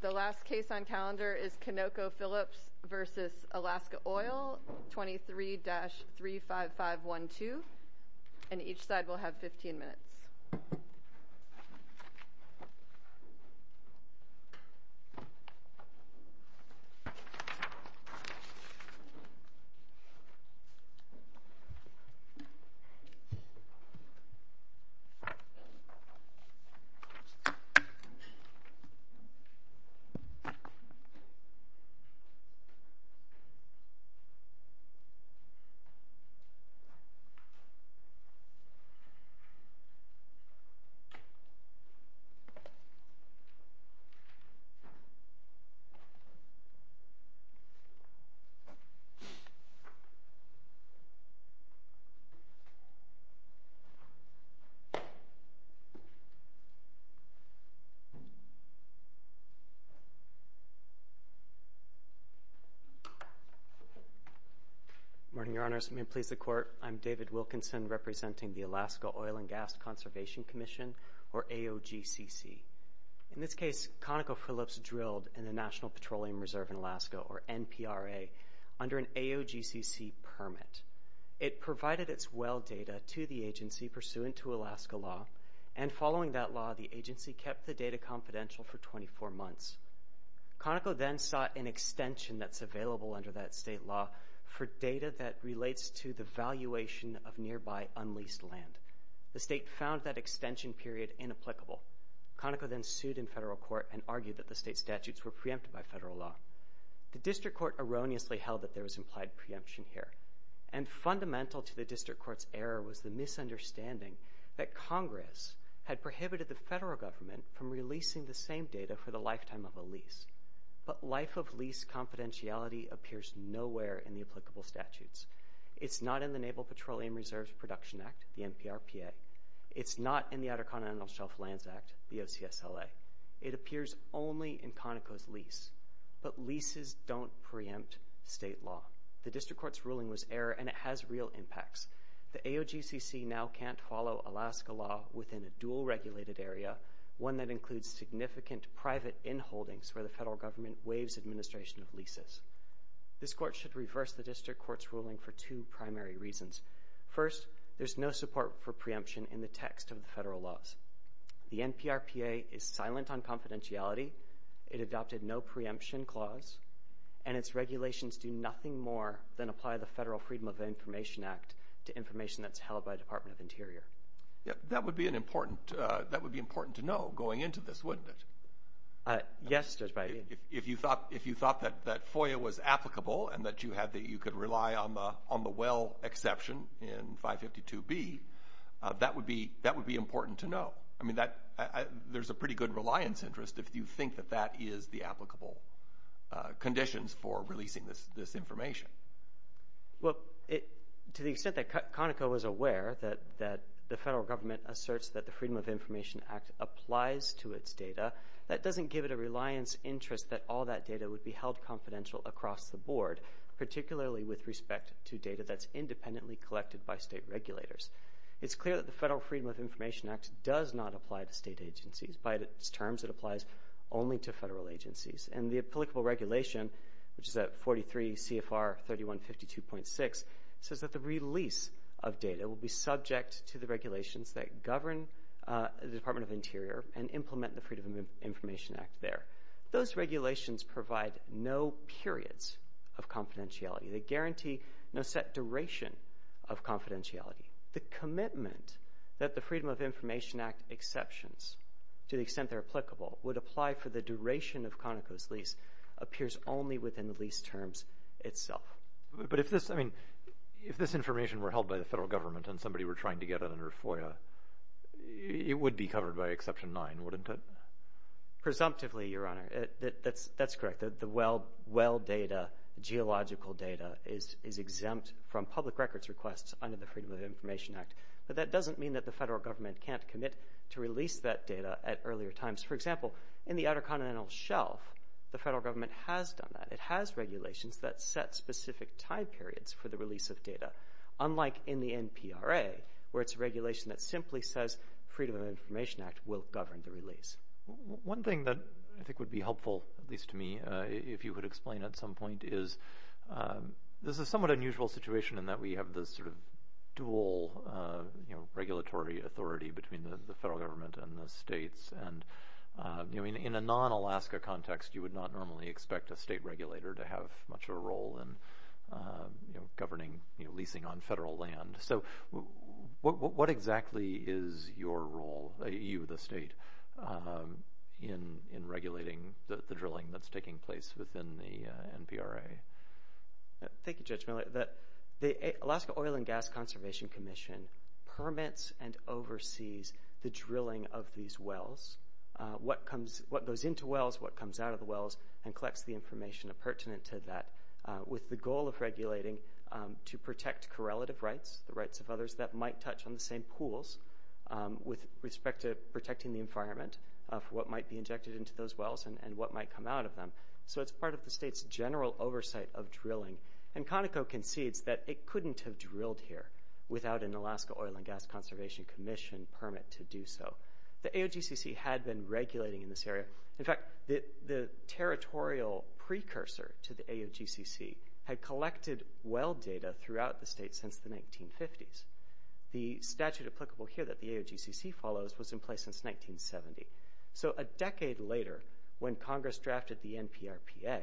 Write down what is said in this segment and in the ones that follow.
The last case on calendar is Conocophillips v. Alaska Oil, 23-35512, and each side will have 15 minutes. The last case on calendar is Conocophillips v. Alaska Oil, 23-35512, and each side will have 15 minutes. I'm David Wilkinson representing the Alaska Oil and Gas Conservation Commission, or AOGCC. In this case, Conocophillips drilled in the National Petroleum Reserve in Alaska, or NPRA, under an AOGCC permit. It provided its well data to the agency pursuant to Alaska law, and following that law, the Conoco then sought an extension that's available under that state law for data that relates to the valuation of nearby unleased land. The state found that extension period inapplicable. Conoco then sued in federal court and argued that the state statutes were preempted by federal law. The district court erroneously held that there was implied preemption here, and fundamental to the district court's error was the misunderstanding that Congress had prohibited the federal government from releasing the same data for the lifetime of a lease. But life of lease confidentiality appears nowhere in the applicable statutes. It's not in the Naval Petroleum Reserve's Production Act, the NPRPA. It's not in the Outer Continental Shelf Lands Act, the OCSLA. It appears only in Conoco's lease. But leases don't preempt state law. The district court's ruling was error, and it has real impacts. The AOGCC now can't follow Alaska law within a dual-regulated area, one that includes significant private inholdings where the federal government waives administration of leases. This court should reverse the district court's ruling for two primary reasons. First, there's no support for preemption in the text of the federal laws. The NPRPA is silent on confidentiality. It adopted no preemption clause, and its regulations do nothing more than apply the Federal Freedom of Information Act to information that's held by the Department of Interior. That would be important to know going into this, wouldn't it? Yes, Judge Biden. If you thought that FOIA was applicable and that you could rely on the well exception in 552B, that would be important to know. I mean, there's a pretty good reliance interest if you think that that is the applicable conditions for releasing this information. Well, to the extent that Conoco is aware that the federal government asserts that the Freedom of Information Act applies to its data, that doesn't give it a reliance interest that all that data would be held confidential across the board, particularly with respect to data that's independently collected by state regulators. It's clear that the Federal Freedom of Information Act does not apply to state agencies. By its terms, it applies only to federal agencies. And the applicable regulation, which is at 43 CFR 3152.6, says that the release of data will be subject to the regulations that govern the Department of Interior and implement the Freedom of Information Act there. Those regulations provide no periods of confidentiality. They guarantee no set duration of confidentiality. The commitment that the Freedom of Information Act exceptions, to the extent they're applicable, would apply for the duration of Conoco's lease appears only within the lease terms itself. But if this, I mean, if this information were held by the federal government and somebody were trying to get it under FOIA, it would be covered by Exception 9, wouldn't it? Presumptively, Your Honor. That's correct. The well data, geological data, is exempt from public records requests under the Freedom of Information Act. But that doesn't mean that the federal government can't commit to release that data at earlier times. For example, in the Outer Continental Shelf, the federal government has done that. It has regulations that set specific time periods for the release of data, unlike in the NPRA where it's a regulation that simply says Freedom of Information Act will govern the release. One thing that I think would be helpful, at least to me, if you could explain at some point, is this is a somewhat unusual situation in that we have this sort of dual regulatory authority between the federal government and the states. And in a non-Alaska context, you would not normally expect a state regulator to have much of a role in governing leasing on federal land. So what exactly is your role, you, the state, in regulating the drilling that's taking place within the NPRA? Thank you, Judge Miller. The Alaska Oil and Gas Conservation Commission permits and oversees the drilling of these wells, what goes into wells, what comes out of the wells, and collects the information pertinent to that, with the goal of regulating to protect correlative rights, the rights of others, that might touch on the same pools with respect to protecting the environment for what might be injected into those wells and what might come out of them. So it's part of the state's general oversight of drilling. And Conoco concedes that it couldn't have drilled here without an Alaska Oil and Gas Conservation Commission permit to do so. The AOGCC had been regulating in this area. In fact, the territorial precursor to the AOGCC had collected well data throughout the state since the 1950s. The statute applicable here that the AOGCC follows was in place since 1970. So a decade later, when Congress drafted the NPRPA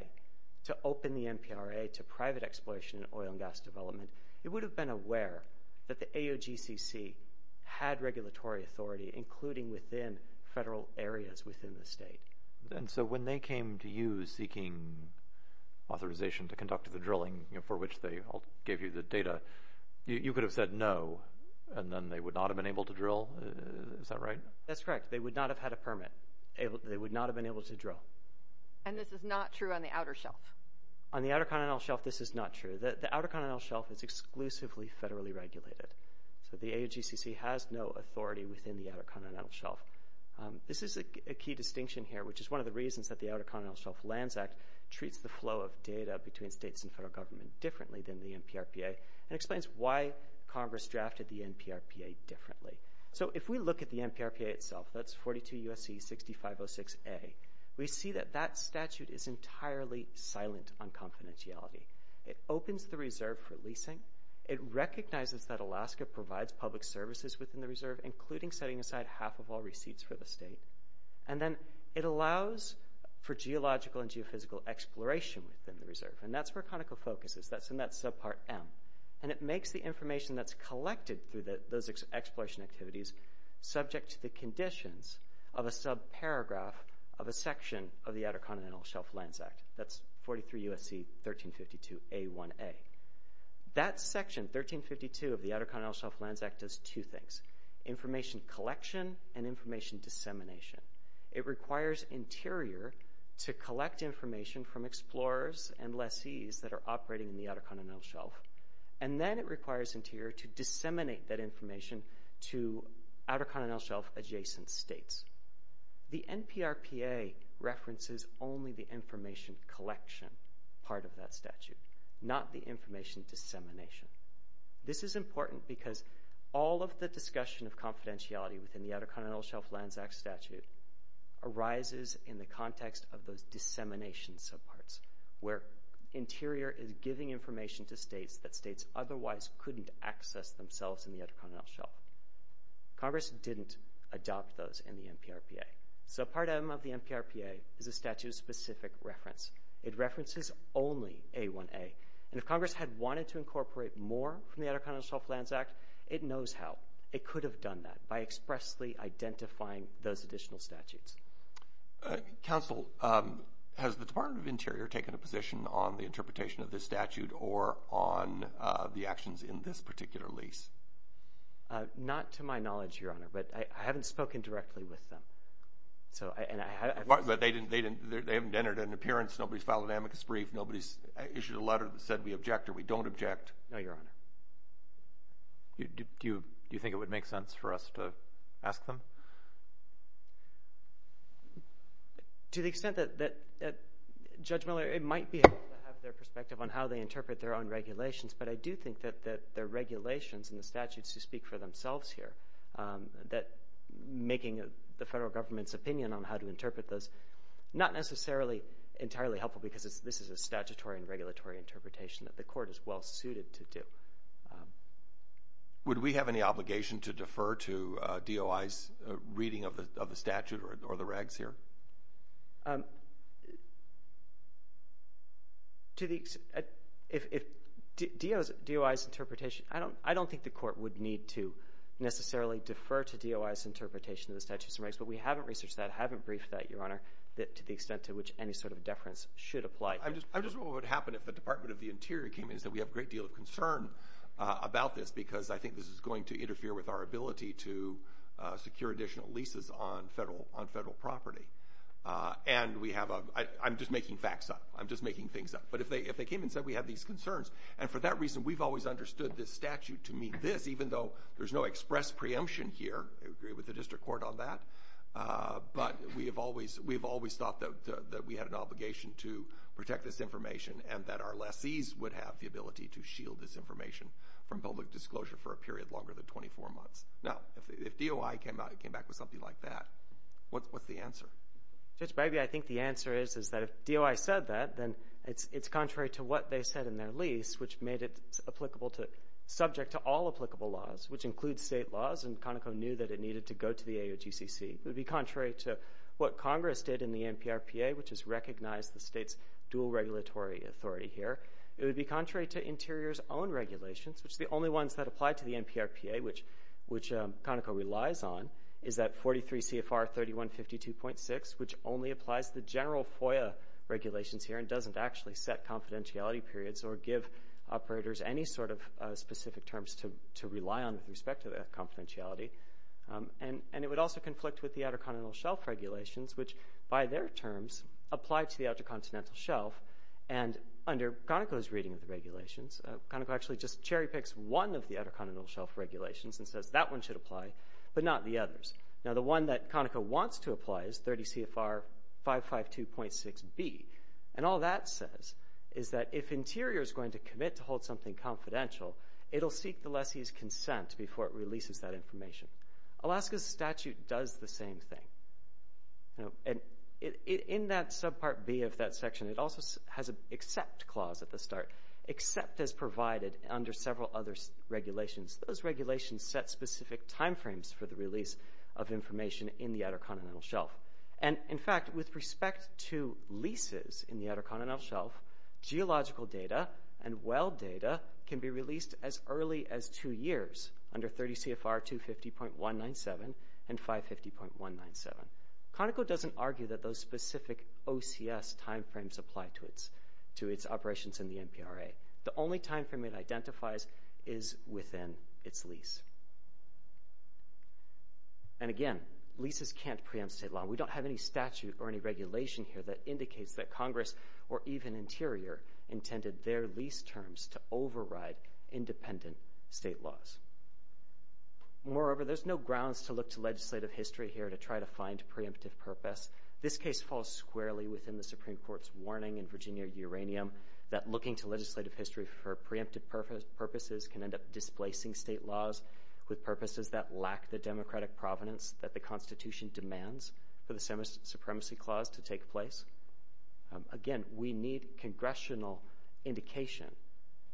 to open the NPRA to private exploitation in oil and gas development, it would have been aware that the AOGCC had regulatory authority, including within federal areas within the state. And so when they came to you seeking authorization to conduct the drilling for which they gave you the data, you could have said no, and then they would not have been able to drill? Is that right? That's correct. They would not have had a permit. They would not have been able to drill. And this is not true on the outer shelf? On the outer continental shelf, this is not true. The outer continental shelf is exclusively federally regulated. So the AOGCC has no authority within the outer continental shelf. This is a key distinction here, which is one of the reasons that the Outer Continental Shelf Lands Act treats the flow of data between states and federal government differently than the NPRPA and explains why Congress drafted the NPRPA differently. So if we look at the NPRPA itself, that's 42 U.S.C. 6506A, we see that that statute is entirely silent on confidentiality. It opens the reserve for leasing. It recognizes that Alaska provides public services within the reserve, including setting aside half of all receipts for the state. And then it allows for geological and geophysical exploration within the reserve. And that's where ConocoFocus is. That's in that subpart M. And it makes the information that's collected through those exploration activities subject to the conditions of a subparagraph of a section of the Outer Continental Shelf Lands Act. That's 43 U.S.C. 1352A1A. That section, 1352, of the Outer Continental Shelf Lands Act does two things. Information collection and information dissemination. It requires Interior to collect information from explorers and lessees that are operating in the Outer Continental Shelf. And then it requires Interior to disseminate that information to Outer Continental Shelf adjacent states. The NPRPA references only the information collection part of that statute, not the information dissemination. This is important because all of the discussion of confidentiality within the Outer Continental Shelf Lands Act statute arises in the context of those dissemination subparts, where Interior is giving information to states that states otherwise couldn't access themselves in the Outer Continental Shelf. Congress didn't adopt those in the NPRPA. So part M of the NPRPA is a statute of specific reference. It references only A1A. And if Congress had wanted to incorporate more from the Outer Continental Shelf Lands Act, it knows how. It could have done that by expressly identifying those additional statutes. Counsel, has the Department of Interior taken a position on the interpretation of this statute or on the actions in this particular lease? Not to my knowledge, Your Honor, but I haven't spoken directly with them. But they haven't entered an appearance. Nobody's filed an amicus brief. Nobody's issued a letter that said we object or we don't object. No, Your Honor. Do you think it would make sense for us to ask them? To the extent that, Judge Miller, it might be helpful to have their perspective on how they interpret their own regulations, but I do think that their regulations and the statutes do speak for themselves here, that making the federal government's opinion on how to interpret those not necessarily entirely helpful because this is a statutory and regulatory interpretation that the court is well-suited to do. Would we have any obligation to defer to DOI's reading of the statute or the regs here? I don't think the court would need to necessarily defer to DOI's interpretation of the statutes and regs, but we haven't researched that, haven't briefed that, Your Honor, to the extent to which any sort of deference should apply. I'm just wondering what would happen if the Department of the Interior came in and said we have a great deal of concern about this because I think this is going to interfere with our ability to secure additional leases on federal property. And I'm just making facts up. I'm just making things up. But if they came in and said we have these concerns, and for that reason we've always understood this statute to mean this, even though there's no express preemption here, I agree with the district court on that, but we have always thought that we had an obligation to protect this information and that our lessees would have the ability to shield this information from public disclosure for a period longer than 24 months. Now, if DOI came out and came back with something like that, what's the answer? Judge Bagby, I think the answer is that if DOI said that, then it's contrary to what they said in their lease, which made it subject to all applicable laws, which includes state laws, and Conoco knew that it needed to go to the AOGCC. It would be contrary to what Congress did in the NPRPA, which has recognized the state's dual regulatory authority here. It would be contrary to Interior's own regulations, which are the only ones that apply to the NPRPA, which Conoco relies on, is that 43 CFR 3152.6, which only applies to the general FOIA regulations here and doesn't actually set confidentiality periods or give operators any sort of specific terms to rely on with respect to confidentiality, and it would also conflict with the Outer Continental Shelf regulations, which by their terms apply to the Outer Continental Shelf, and under Conoco's reading of the regulations, Conoco actually just cherry-picks one of the Outer Continental Shelf regulations and says that one should apply, but not the others. Now, the one that Conoco wants to apply is 30 CFR 552.6B, and all that says is that if Interior is going to commit to hold something confidential, it'll seek the lessee's consent before it releases that information. Alaska's statute does the same thing, and in that subpart B of that section, it also has an accept clause at the start. Except as provided under several other regulations, those regulations set specific timeframes for the release of information in the Outer Continental Shelf. And, in fact, with respect to leases in the Outer Continental Shelf, geological data and well data can be released as early as two years, under 30 CFR 250.197 and 550.197. Conoco doesn't argue that those specific OCS timeframes apply to its operations in the NPRA. The only timeframe it identifies is within its lease. And, again, leases can't preempt state law. We don't have any statute or any regulation here that indicates that Congress, or even Interior, intended their lease terms to override independent state laws. Moreover, there's no grounds to look to legislative history here to try to find preemptive purpose. This case falls squarely within the Supreme Court's warning in Virginia Uranium that looking to legislative history for preemptive purposes can end up displacing state laws with purposes that lack the democratic provenance that the Constitution demands for the Semi-Supremacy Clause to take place. Again, we need congressional indication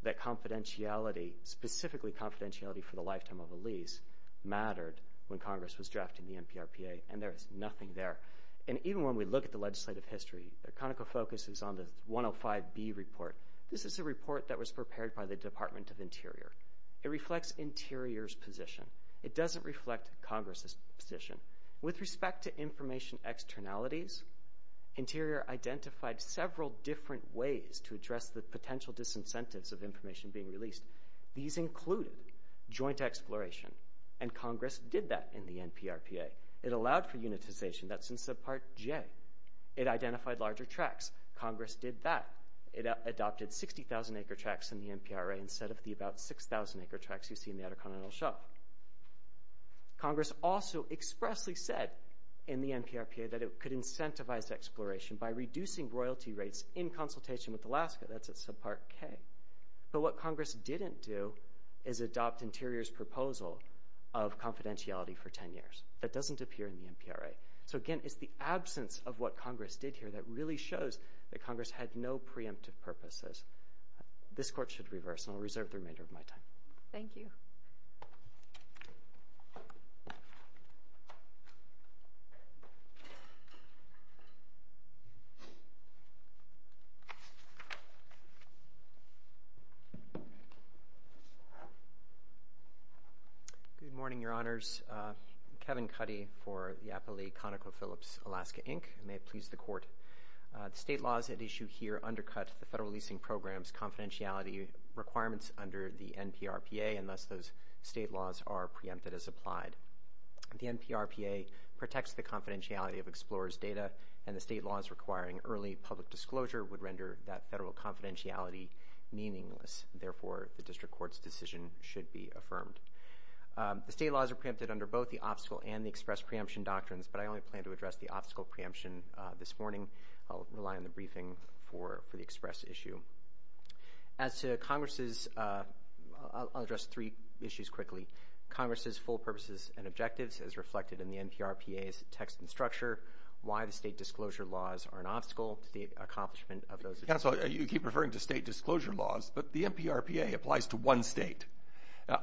that confidentiality, specifically confidentiality for the lifetime of a lease, mattered when Congress was drafting the NPRPA, and there is nothing there. And even when we look at the legislative history, Conoco focuses on the 105B report. This is a report that was prepared by the Department of Interior. It reflects Interior's position. It doesn't reflect Congress's position. With respect to information externalities, Interior identified several different ways to address the potential disincentives of information being released. These included joint exploration, and Congress did that in the NPRPA. It allowed for unitization. That's in Subpart J. It identified larger tracts. Congress did that. It adopted 60,000-acre tracts in the NPRPA instead of the about 6,000-acre tracts you see in the Outer Continental Shelf. Congress also expressly said in the NPRPA that it could incentivize exploration by reducing royalty rates in consultation with Alaska. That's at Subpart K. But what Congress didn't do is adopt Interior's proposal of confidentiality for 10 years. That doesn't appear in the NPRA. So, again, it's the absence of what Congress did here that really shows that Congress had no preemptive purposes. This Court should reverse, and I'll reserve the remainder of my time. Thank you. Good morning, Your Honors. I'm Kevin Cuddy for the Appalachian ConocoPhillips Alaska Inc. I may have pleased the Court. The state laws at issue here undercut the federal leasing program's confidentiality requirements under the NPRPA, unless those state laws are preempted as applied. The NPRPA protects the confidentiality of explorers' data, and the state laws requiring early public disclosure would render that federal confidentiality meaningless. Therefore, the District Court's decision should be affirmed. The state laws are preempted under both the obstacle and the express preemption doctrines, but I only plan to address the obstacle preemption this morning. I'll rely on the briefing for the express issue. As to Congress's, I'll address three issues quickly. Congress's full purposes and objectives as reflected in the NPRPA's text and structure, why the state disclosure laws are an obstacle to the accomplishment of those objectives. Counsel, you keep referring to state disclosure laws, but the NPRPA applies to one state.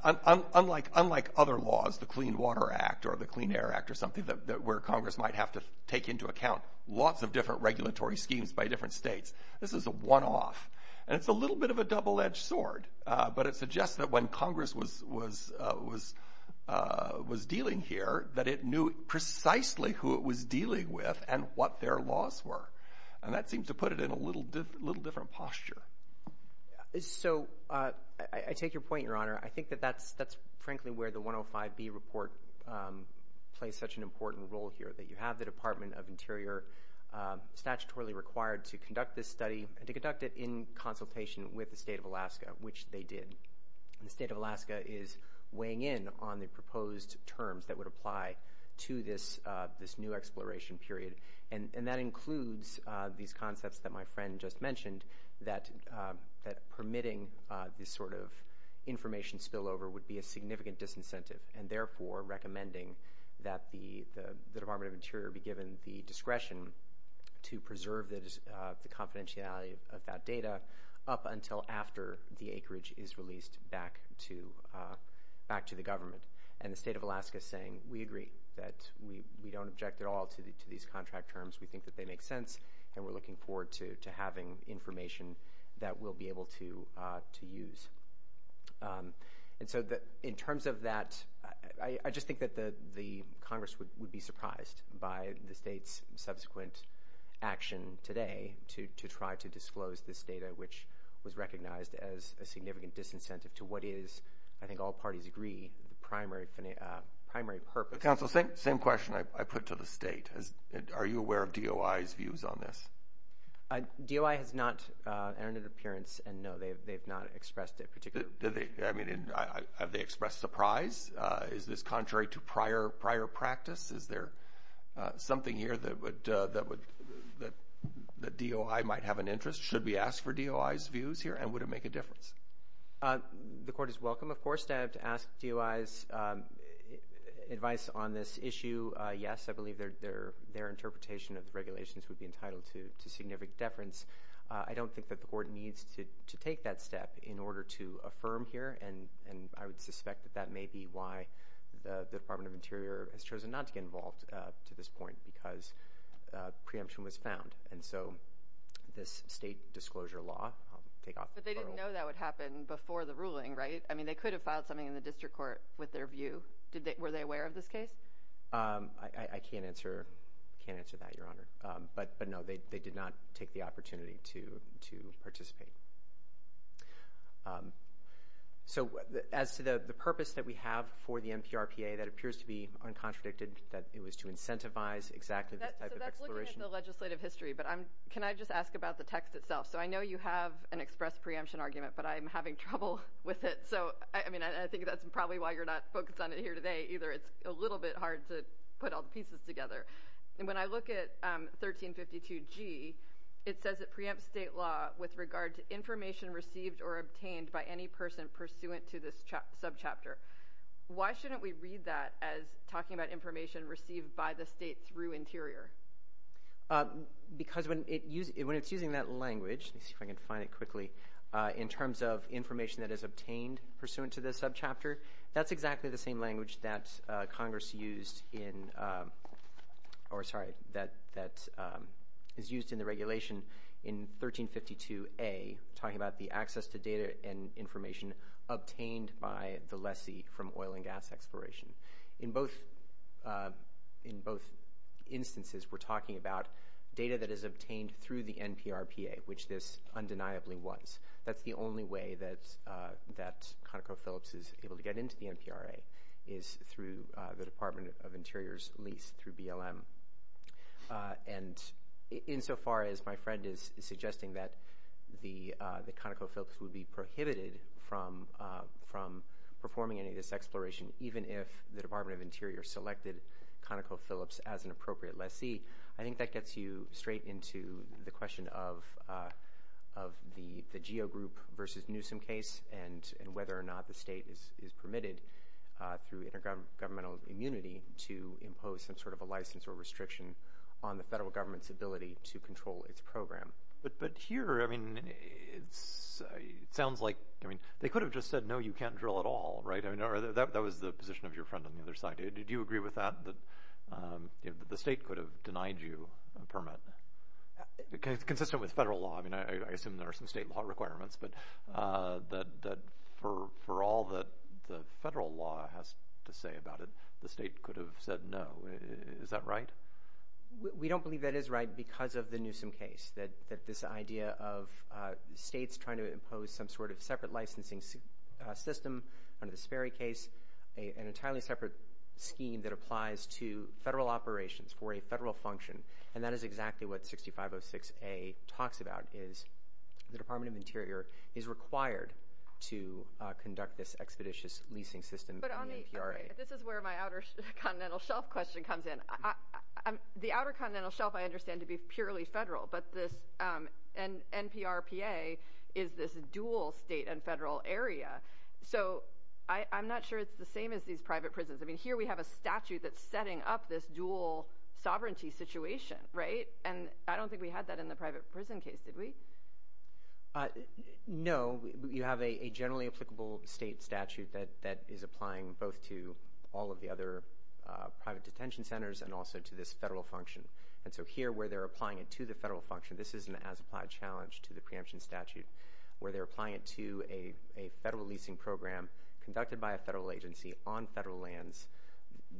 Unlike other laws, the Clean Water Act or the Clean Air Act or something where Congress might have to take into account lots of different regulatory schemes by different states, this is a one-off, and it's a little bit of a double-edged sword. But it suggests that when Congress was dealing here, that it knew precisely who it was dealing with and what their laws were, and that seems to put it in a little different posture. So I take your point, Your Honor. I think that that's frankly where the 105B report plays such an important role here, that you have the Department of Interior statutorily required to conduct this study and to conduct it in consultation with the state of Alaska, which they did. The state of Alaska is weighing in on the proposed terms that would apply to this new exploration period, and that includes these concepts that my friend just mentioned, that permitting this sort of information spillover would be a significant disincentive and therefore recommending that the Department of Interior be given the discretion to preserve the confidentiality of that data up until after the acreage is released back to the government. And the state of Alaska is saying, we agree that we don't object at all to these contract terms. We think that they make sense, and we're looking forward to having information that we'll be able to use. And so in terms of that, I just think that the Congress would be surprised by the state's subsequent action today to try to disclose this data, which was recognized as a significant disincentive to what is, I think all parties agree, the primary purpose. Counsel, same question I put to the state. Are you aware of DOI's views on this? DOI has not entered an appearance, and no, they have not expressed a particular. I mean, have they expressed surprise? Is this contrary to prior practice? Is there something here that DOI might have an interest? Should we ask for DOI's views here, and would it make a difference? The court is welcome, of course, to ask DOI's advice on this issue. Yes, I believe their interpretation of the regulations would be entitled to significant deference. I don't think that the court needs to take that step in order to affirm here, and I would suspect that that may be why the Department of Interior has chosen not to get involved to this point, because preemption was found. And so this state disclosure law, I'll take off the phone. But they didn't know that would happen before the ruling, right? I mean, they could have filed something in the district court with their view. Were they aware of this case? I can't answer that, Your Honor. But, no, they did not take the opportunity to participate. So as to the purpose that we have for the NPRPA, that appears to be uncontradicted, that it was to incentivize exactly this type of exploration. So that's looking at the legislative history, but can I just ask about the text itself? So I know you have an express preemption argument, but I'm having trouble with it. So, I mean, I think that's probably why you're not focused on it here today either. It's a little bit hard to put all the pieces together. And when I look at 1352G, it says it preempts state law with regard to information received or obtained by any person pursuant to this subchapter. Why shouldn't we read that as talking about information received by the state through Interior? Because when it's using that language, let me see if I can find it quickly, in terms of information that is obtained pursuant to this subchapter, that's exactly the same language that is used in the regulation in 1352A, talking about the access to data and information obtained by the lessee from oil and gas exploration. In both instances, we're talking about data that is obtained through the NPRPA, which this undeniably was. That's the only way that ConocoPhillips is able to get into the NPRA, is through the Department of Interior's lease through BLM. And insofar as my friend is suggesting that ConocoPhillips would be prohibited from performing any of this exploration, even if the Department of Interior selected ConocoPhillips as an appropriate lessee, I think that gets you straight into the question of the GEO Group versus Newsom case and whether or not the state is permitted, through intergovernmental immunity, to impose some sort of a license or restriction on the federal government's ability to control its program. But here, it sounds like they could have just said, no, you can't drill at all. That was the position of your friend on the other side. Did you agree with that, that the state could have denied you a permit? Consistent with federal law. I mean, I assume there are some state law requirements, but for all that the federal law has to say about it, the state could have said no. Is that right? We don't believe that is right because of the Newsom case, that this idea of states trying to impose some sort of separate licensing system under the Sperry case, an entirely separate scheme that applies to federal operations for a federal function, and that is exactly what 6506A talks about, is the Department of Interior is required to conduct this expeditious leasing system under the NPRPA. This is where my Outer Continental Shelf question comes in. The Outer Continental Shelf I understand to be purely federal, but this NPRPA is this dual state and federal area. So I'm not sure it's the same as these private prisons. I mean, here we have a statute that's setting up this dual sovereignty situation, right? And I don't think we had that in the private prison case, did we? No. You have a generally applicable state statute that is applying both to all of the other private detention centers and also to this federal function. And so here where they're applying it to the federal function, this is an as-applied challenge to the preemption statute, where they're applying it to a federal leasing program conducted by a federal agency on federal lands.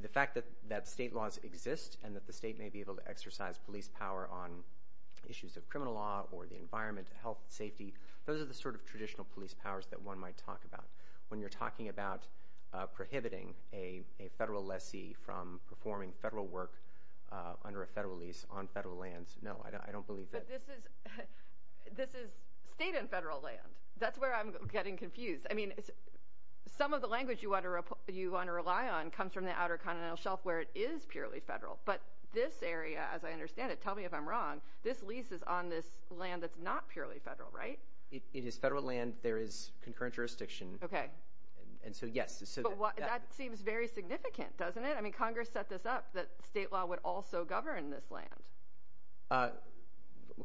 The fact that state laws exist and that the state may be able to exercise police power on issues of criminal law or the environment, health, safety, those are the sort of traditional police powers that one might talk about. When you're talking about prohibiting a federal lessee from performing federal work under a federal lease on federal lands, no, I don't believe that. This is state and federal land. That's where I'm getting confused. I mean, some of the language you want to rely on comes from the outer continental shelf where it is purely federal. But this area, as I understand it, tell me if I'm wrong, this lease is on this land that's not purely federal, right? It is federal land. There is concurrent jurisdiction. Okay. And so, yes. But that seems very significant, doesn't it? I mean, Congress set this up that state law would also govern this land.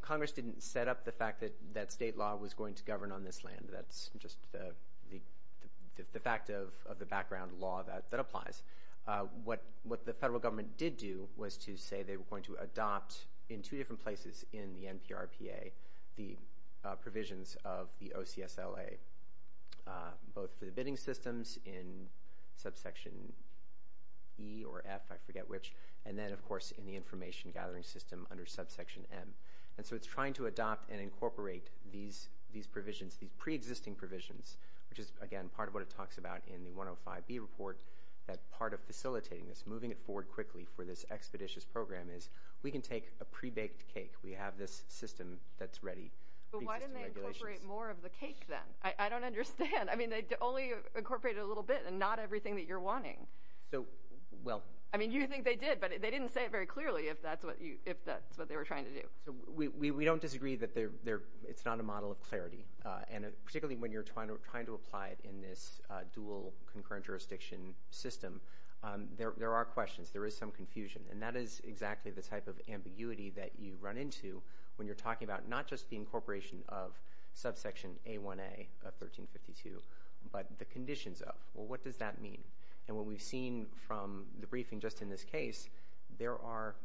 Congress didn't set up the fact that state law was going to govern on this land. That's just the fact of the background law that applies. What the federal government did do was to say they were going to adopt in two different places in the NPRPA the provisions of the OCSLA, both for the bidding systems in subsection E or F, I forget which, and then, of course, in the information gathering system under subsection M. And so it's trying to adopt and incorporate these provisions, these preexisting provisions, which is, again, part of what it talks about in the 105B report, that part of facilitating this, moving it forward quickly for this expeditious program is we can take a prebaked cake. We have this system that's ready. But why didn't they incorporate more of the cake then? I don't understand. I mean, they only incorporated a little bit and not everything that you're wanting. So, well. I mean, you think they did, but they didn't say it very clearly if that's what they were trying to do. So we don't disagree that it's not a model of clarity, and particularly when you're trying to apply it in this dual concurrent jurisdiction system, there are questions. There is some confusion, and that is exactly the type of ambiguity that you run into when you're talking about not just the incorporation of subsection A1A of 1352, but the conditions of. Well, what does that mean? And what we've seen from the briefing just in this case, there are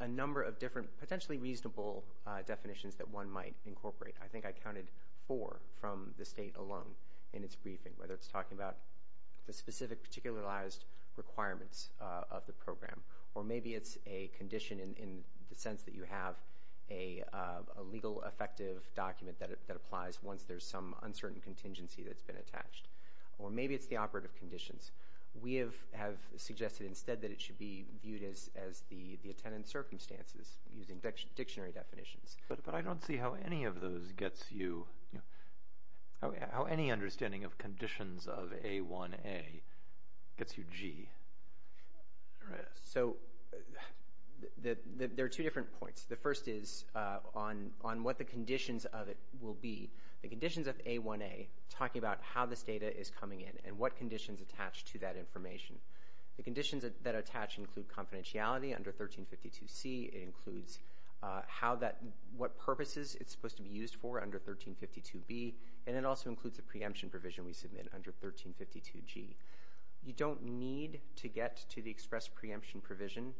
a number of different potentially reasonable definitions that one might incorporate. I think I counted four from the state alone in its briefing, whether it's talking about the specific particularized requirements of the program, or maybe it's a condition in the sense that you have a legal effective document that applies once there's some uncertain contingency that's been attached. Or maybe it's the operative conditions. We have suggested instead that it should be viewed as the attendant circumstances using dictionary definitions. But I don't see how any of those gets you, how any understanding of conditions of A1A gets you G. So there are two different points. The first is on what the conditions of it will be. The conditions of A1A, talking about how this data is coming in and what conditions attach to that information. The conditions that attach include confidentiality under 1352C. It includes what purposes it's supposed to be used for under 1352B. And it also includes the preemption provision we submit under 1352G. You don't need to get to the express preemption provision.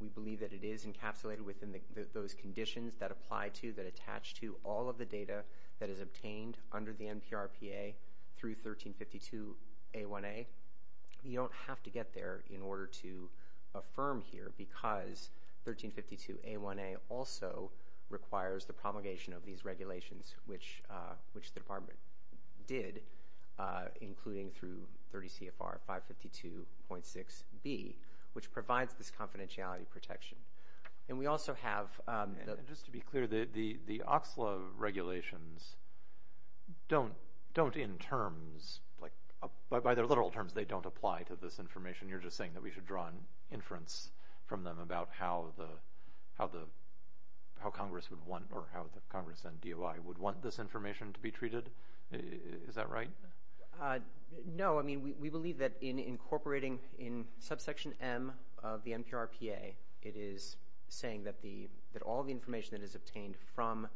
We believe that it is encapsulated within those conditions that apply to, that attach to all of the data that is obtained under the NPRPA through 1352A1A. You don't have to get there in order to affirm here, because 1352A1A also requires the promulgation of these regulations, which the Department did, including through 30 CFR 552.6B, which provides this confidentiality protection. Just to be clear, the OCSLA regulations don't in terms, by their literal terms they don't apply to this information. You're just saying that we should draw an inference from them about how Congress would want, or how Congress and DOI would want this information to be treated. Is that right? No. We believe that in incorporating in subsection M of the NPRPA, it is saying that all the information that is obtained from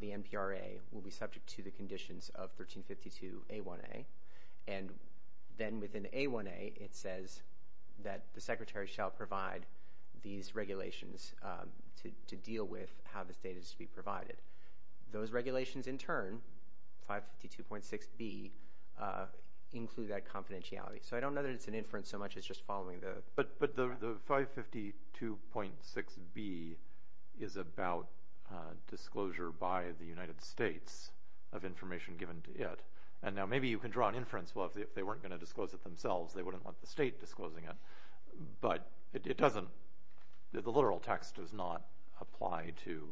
the NPRA will be subject to the conditions of 1352A1A. And then within A1A it says that the Secretary shall provide these regulations to deal with how this data is to be provided. Those regulations in turn, 552.6B, include that confidentiality. So I don't know that it's an inference so much as just following the... But the 552.6B is about disclosure by the United States of information given to it. And now maybe you can draw an inference. Well, if they weren't going to disclose it themselves, they wouldn't want the state disclosing it. But it doesn't... The literal text does not apply to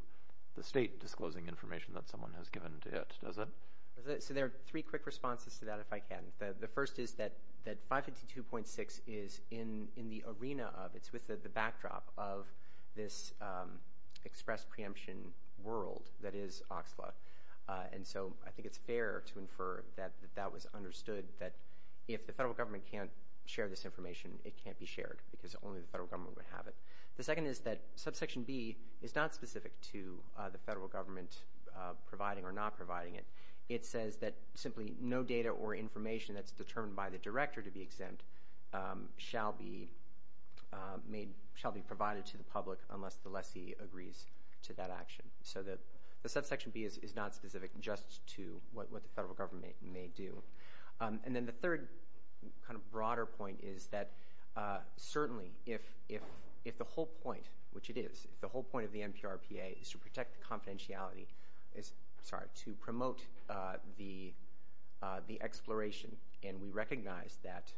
the state disclosing information that someone has given to it, does it? So there are three quick responses to that, if I can. The first is that 552.6 is in the arena of... It's within the backdrop of this express preemption world that is OXLA. And so I think it's fair to infer that that was understood, that if the federal government can't share this information, it can't be shared, because only the federal government would have it. The second is that subsection B is not specific to the federal government providing or not providing it. It says that simply no data or information that's determined by the director to be exempt shall be provided to the public unless the lessee agrees to that action. So the subsection B is not specific just to what the federal government may do. And then the third kind of broader point is that certainly if the whole point, which it is, if the whole point of the NPRPA is to protect the confidentiality, sorry, to promote the exploration, and we recognize that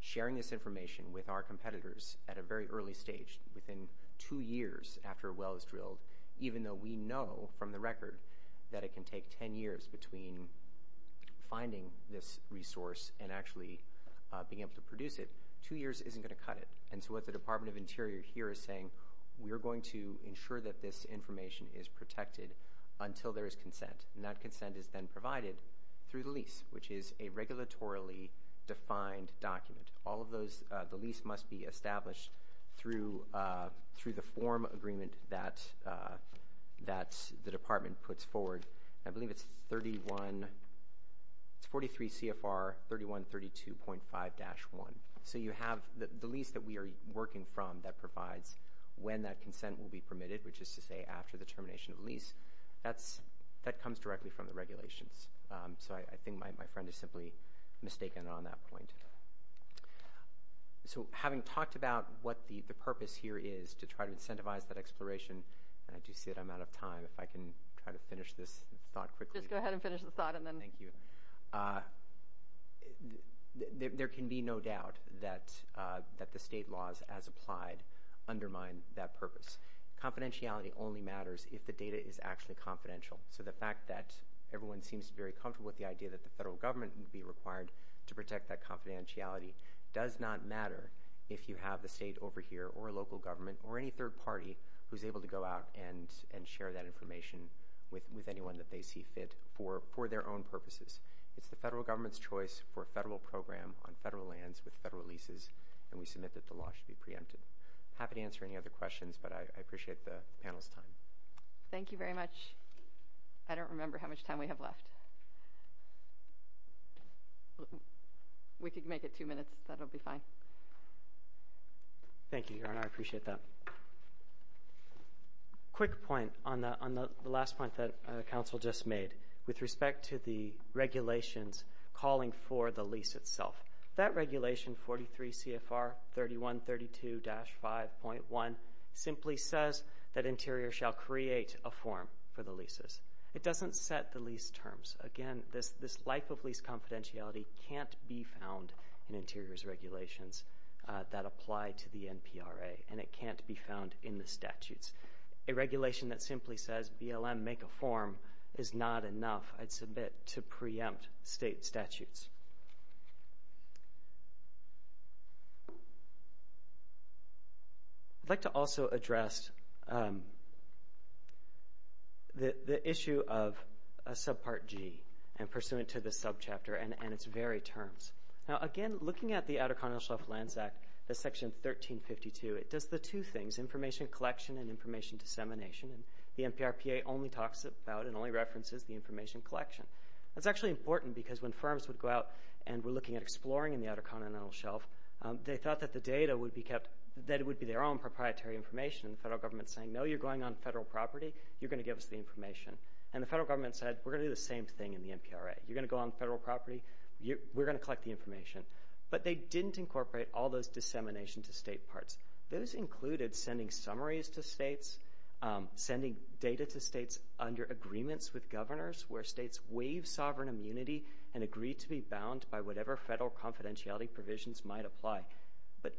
sharing this information with our competitors at a very early stage, within two years after a well is drilled, even though we know from the record that it can take ten years between finding this resource and actually being able to produce it, two years isn't going to cut it. And so what the Department of Interior here is saying, we are going to ensure that this information is protected until there is consent. And that consent is then provided through the lease, which is a regulatorily defined document. All of those, the lease must be established through the form agreement that the department puts forward. I believe it's 43 CFR 3132.5-1. So you have the lease that we are working from that provides when that consent will be permitted, which is to say after the termination of the lease. That comes directly from the regulations. So I think my friend is simply mistaken on that point. So having talked about what the purpose here is to try to incentivize that exploration, and I do see that I'm out of time. If I can try to finish this thought quickly. Just go ahead and finish the thought and then. Thank you. There can be no doubt that the state laws as applied undermine that purpose. Confidentiality only matters if the data is actually confidential. So the fact that everyone seems very comfortable with the idea that the federal government would be required to protect that confidentiality does not matter if you have a state over here or a local government or any third party who is able to go out and share that information with anyone that they see fit for their own purposes. It's the federal government's choice for a federal program on federal lands with federal leases, and we submit that the law should be preempted. I'm happy to answer any other questions, but I appreciate the panel's time. Thank you very much. I don't remember how much time we have left. We could make it two minutes. That will be fine. Thank you, Erin. I appreciate that. Quick point on the last point that counsel just made with respect to the regulations calling for the lease itself. That regulation, 43 CFR 3132-5.1, simply says that Interior shall create a form for the leases. It doesn't set the lease terms. Again, this life of lease confidentiality can't be found in Interior's regulations that apply to the NPRA, and it can't be found in the statutes. A regulation that simply says BLM, make a form, is not enough. I'd submit to preempt state statutes. I'd like to also address the issue of subpart G and pursuant to the subchapter and its very terms. Now, again, looking at the Outer Continental Shelf Lands Act, the section 1352, it does the two things, information collection and information dissemination. The NPRPA only talks about and only references the information collection. That's actually important because when firms would go out and were looking at exploring in the Outer Continental Shelf, they thought that the data would be kept, that it would be their own proprietary information. The federal government is saying, no, you're going on federal property. You're going to give us the information. And the federal government said, we're going to do the same thing in the NPRA. You're going to go on federal property. We're going to collect the information. But they didn't incorporate all those dissemination to state parts. Those included sending summaries to states, sending data to states under agreements with governors, where states waive sovereign immunity and agree to be bound by whatever federal confidentiality provisions might apply. But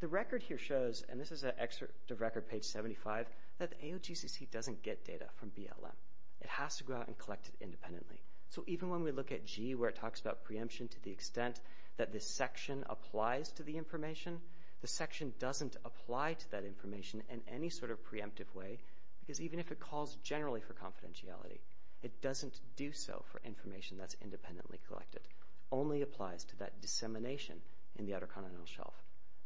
the record here shows, and this is an excerpt of Record Page 75, that the AOGCC doesn't get data from BLM. It has to go out and collect it independently. So even when we look at G where it talks about preemption to the extent that this section applies to the information, the section doesn't apply to that information in any sort of preemptive way, because even if it calls generally for confidentiality, it doesn't do so for information that's independently collected. It only applies to that dissemination in the Outer Continental Shelf.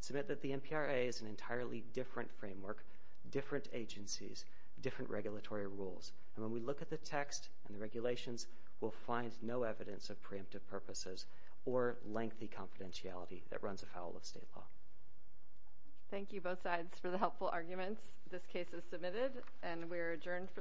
Submit that the NPRA is an entirely different framework, different agencies, different regulatory rules. And when we look at the text and the regulations, we'll find no evidence of preemptive purposes or lengthy confidentiality that runs afoul of state law. Thank you, both sides, for the helpful arguments. This case is submitted, and we are adjourned for the day.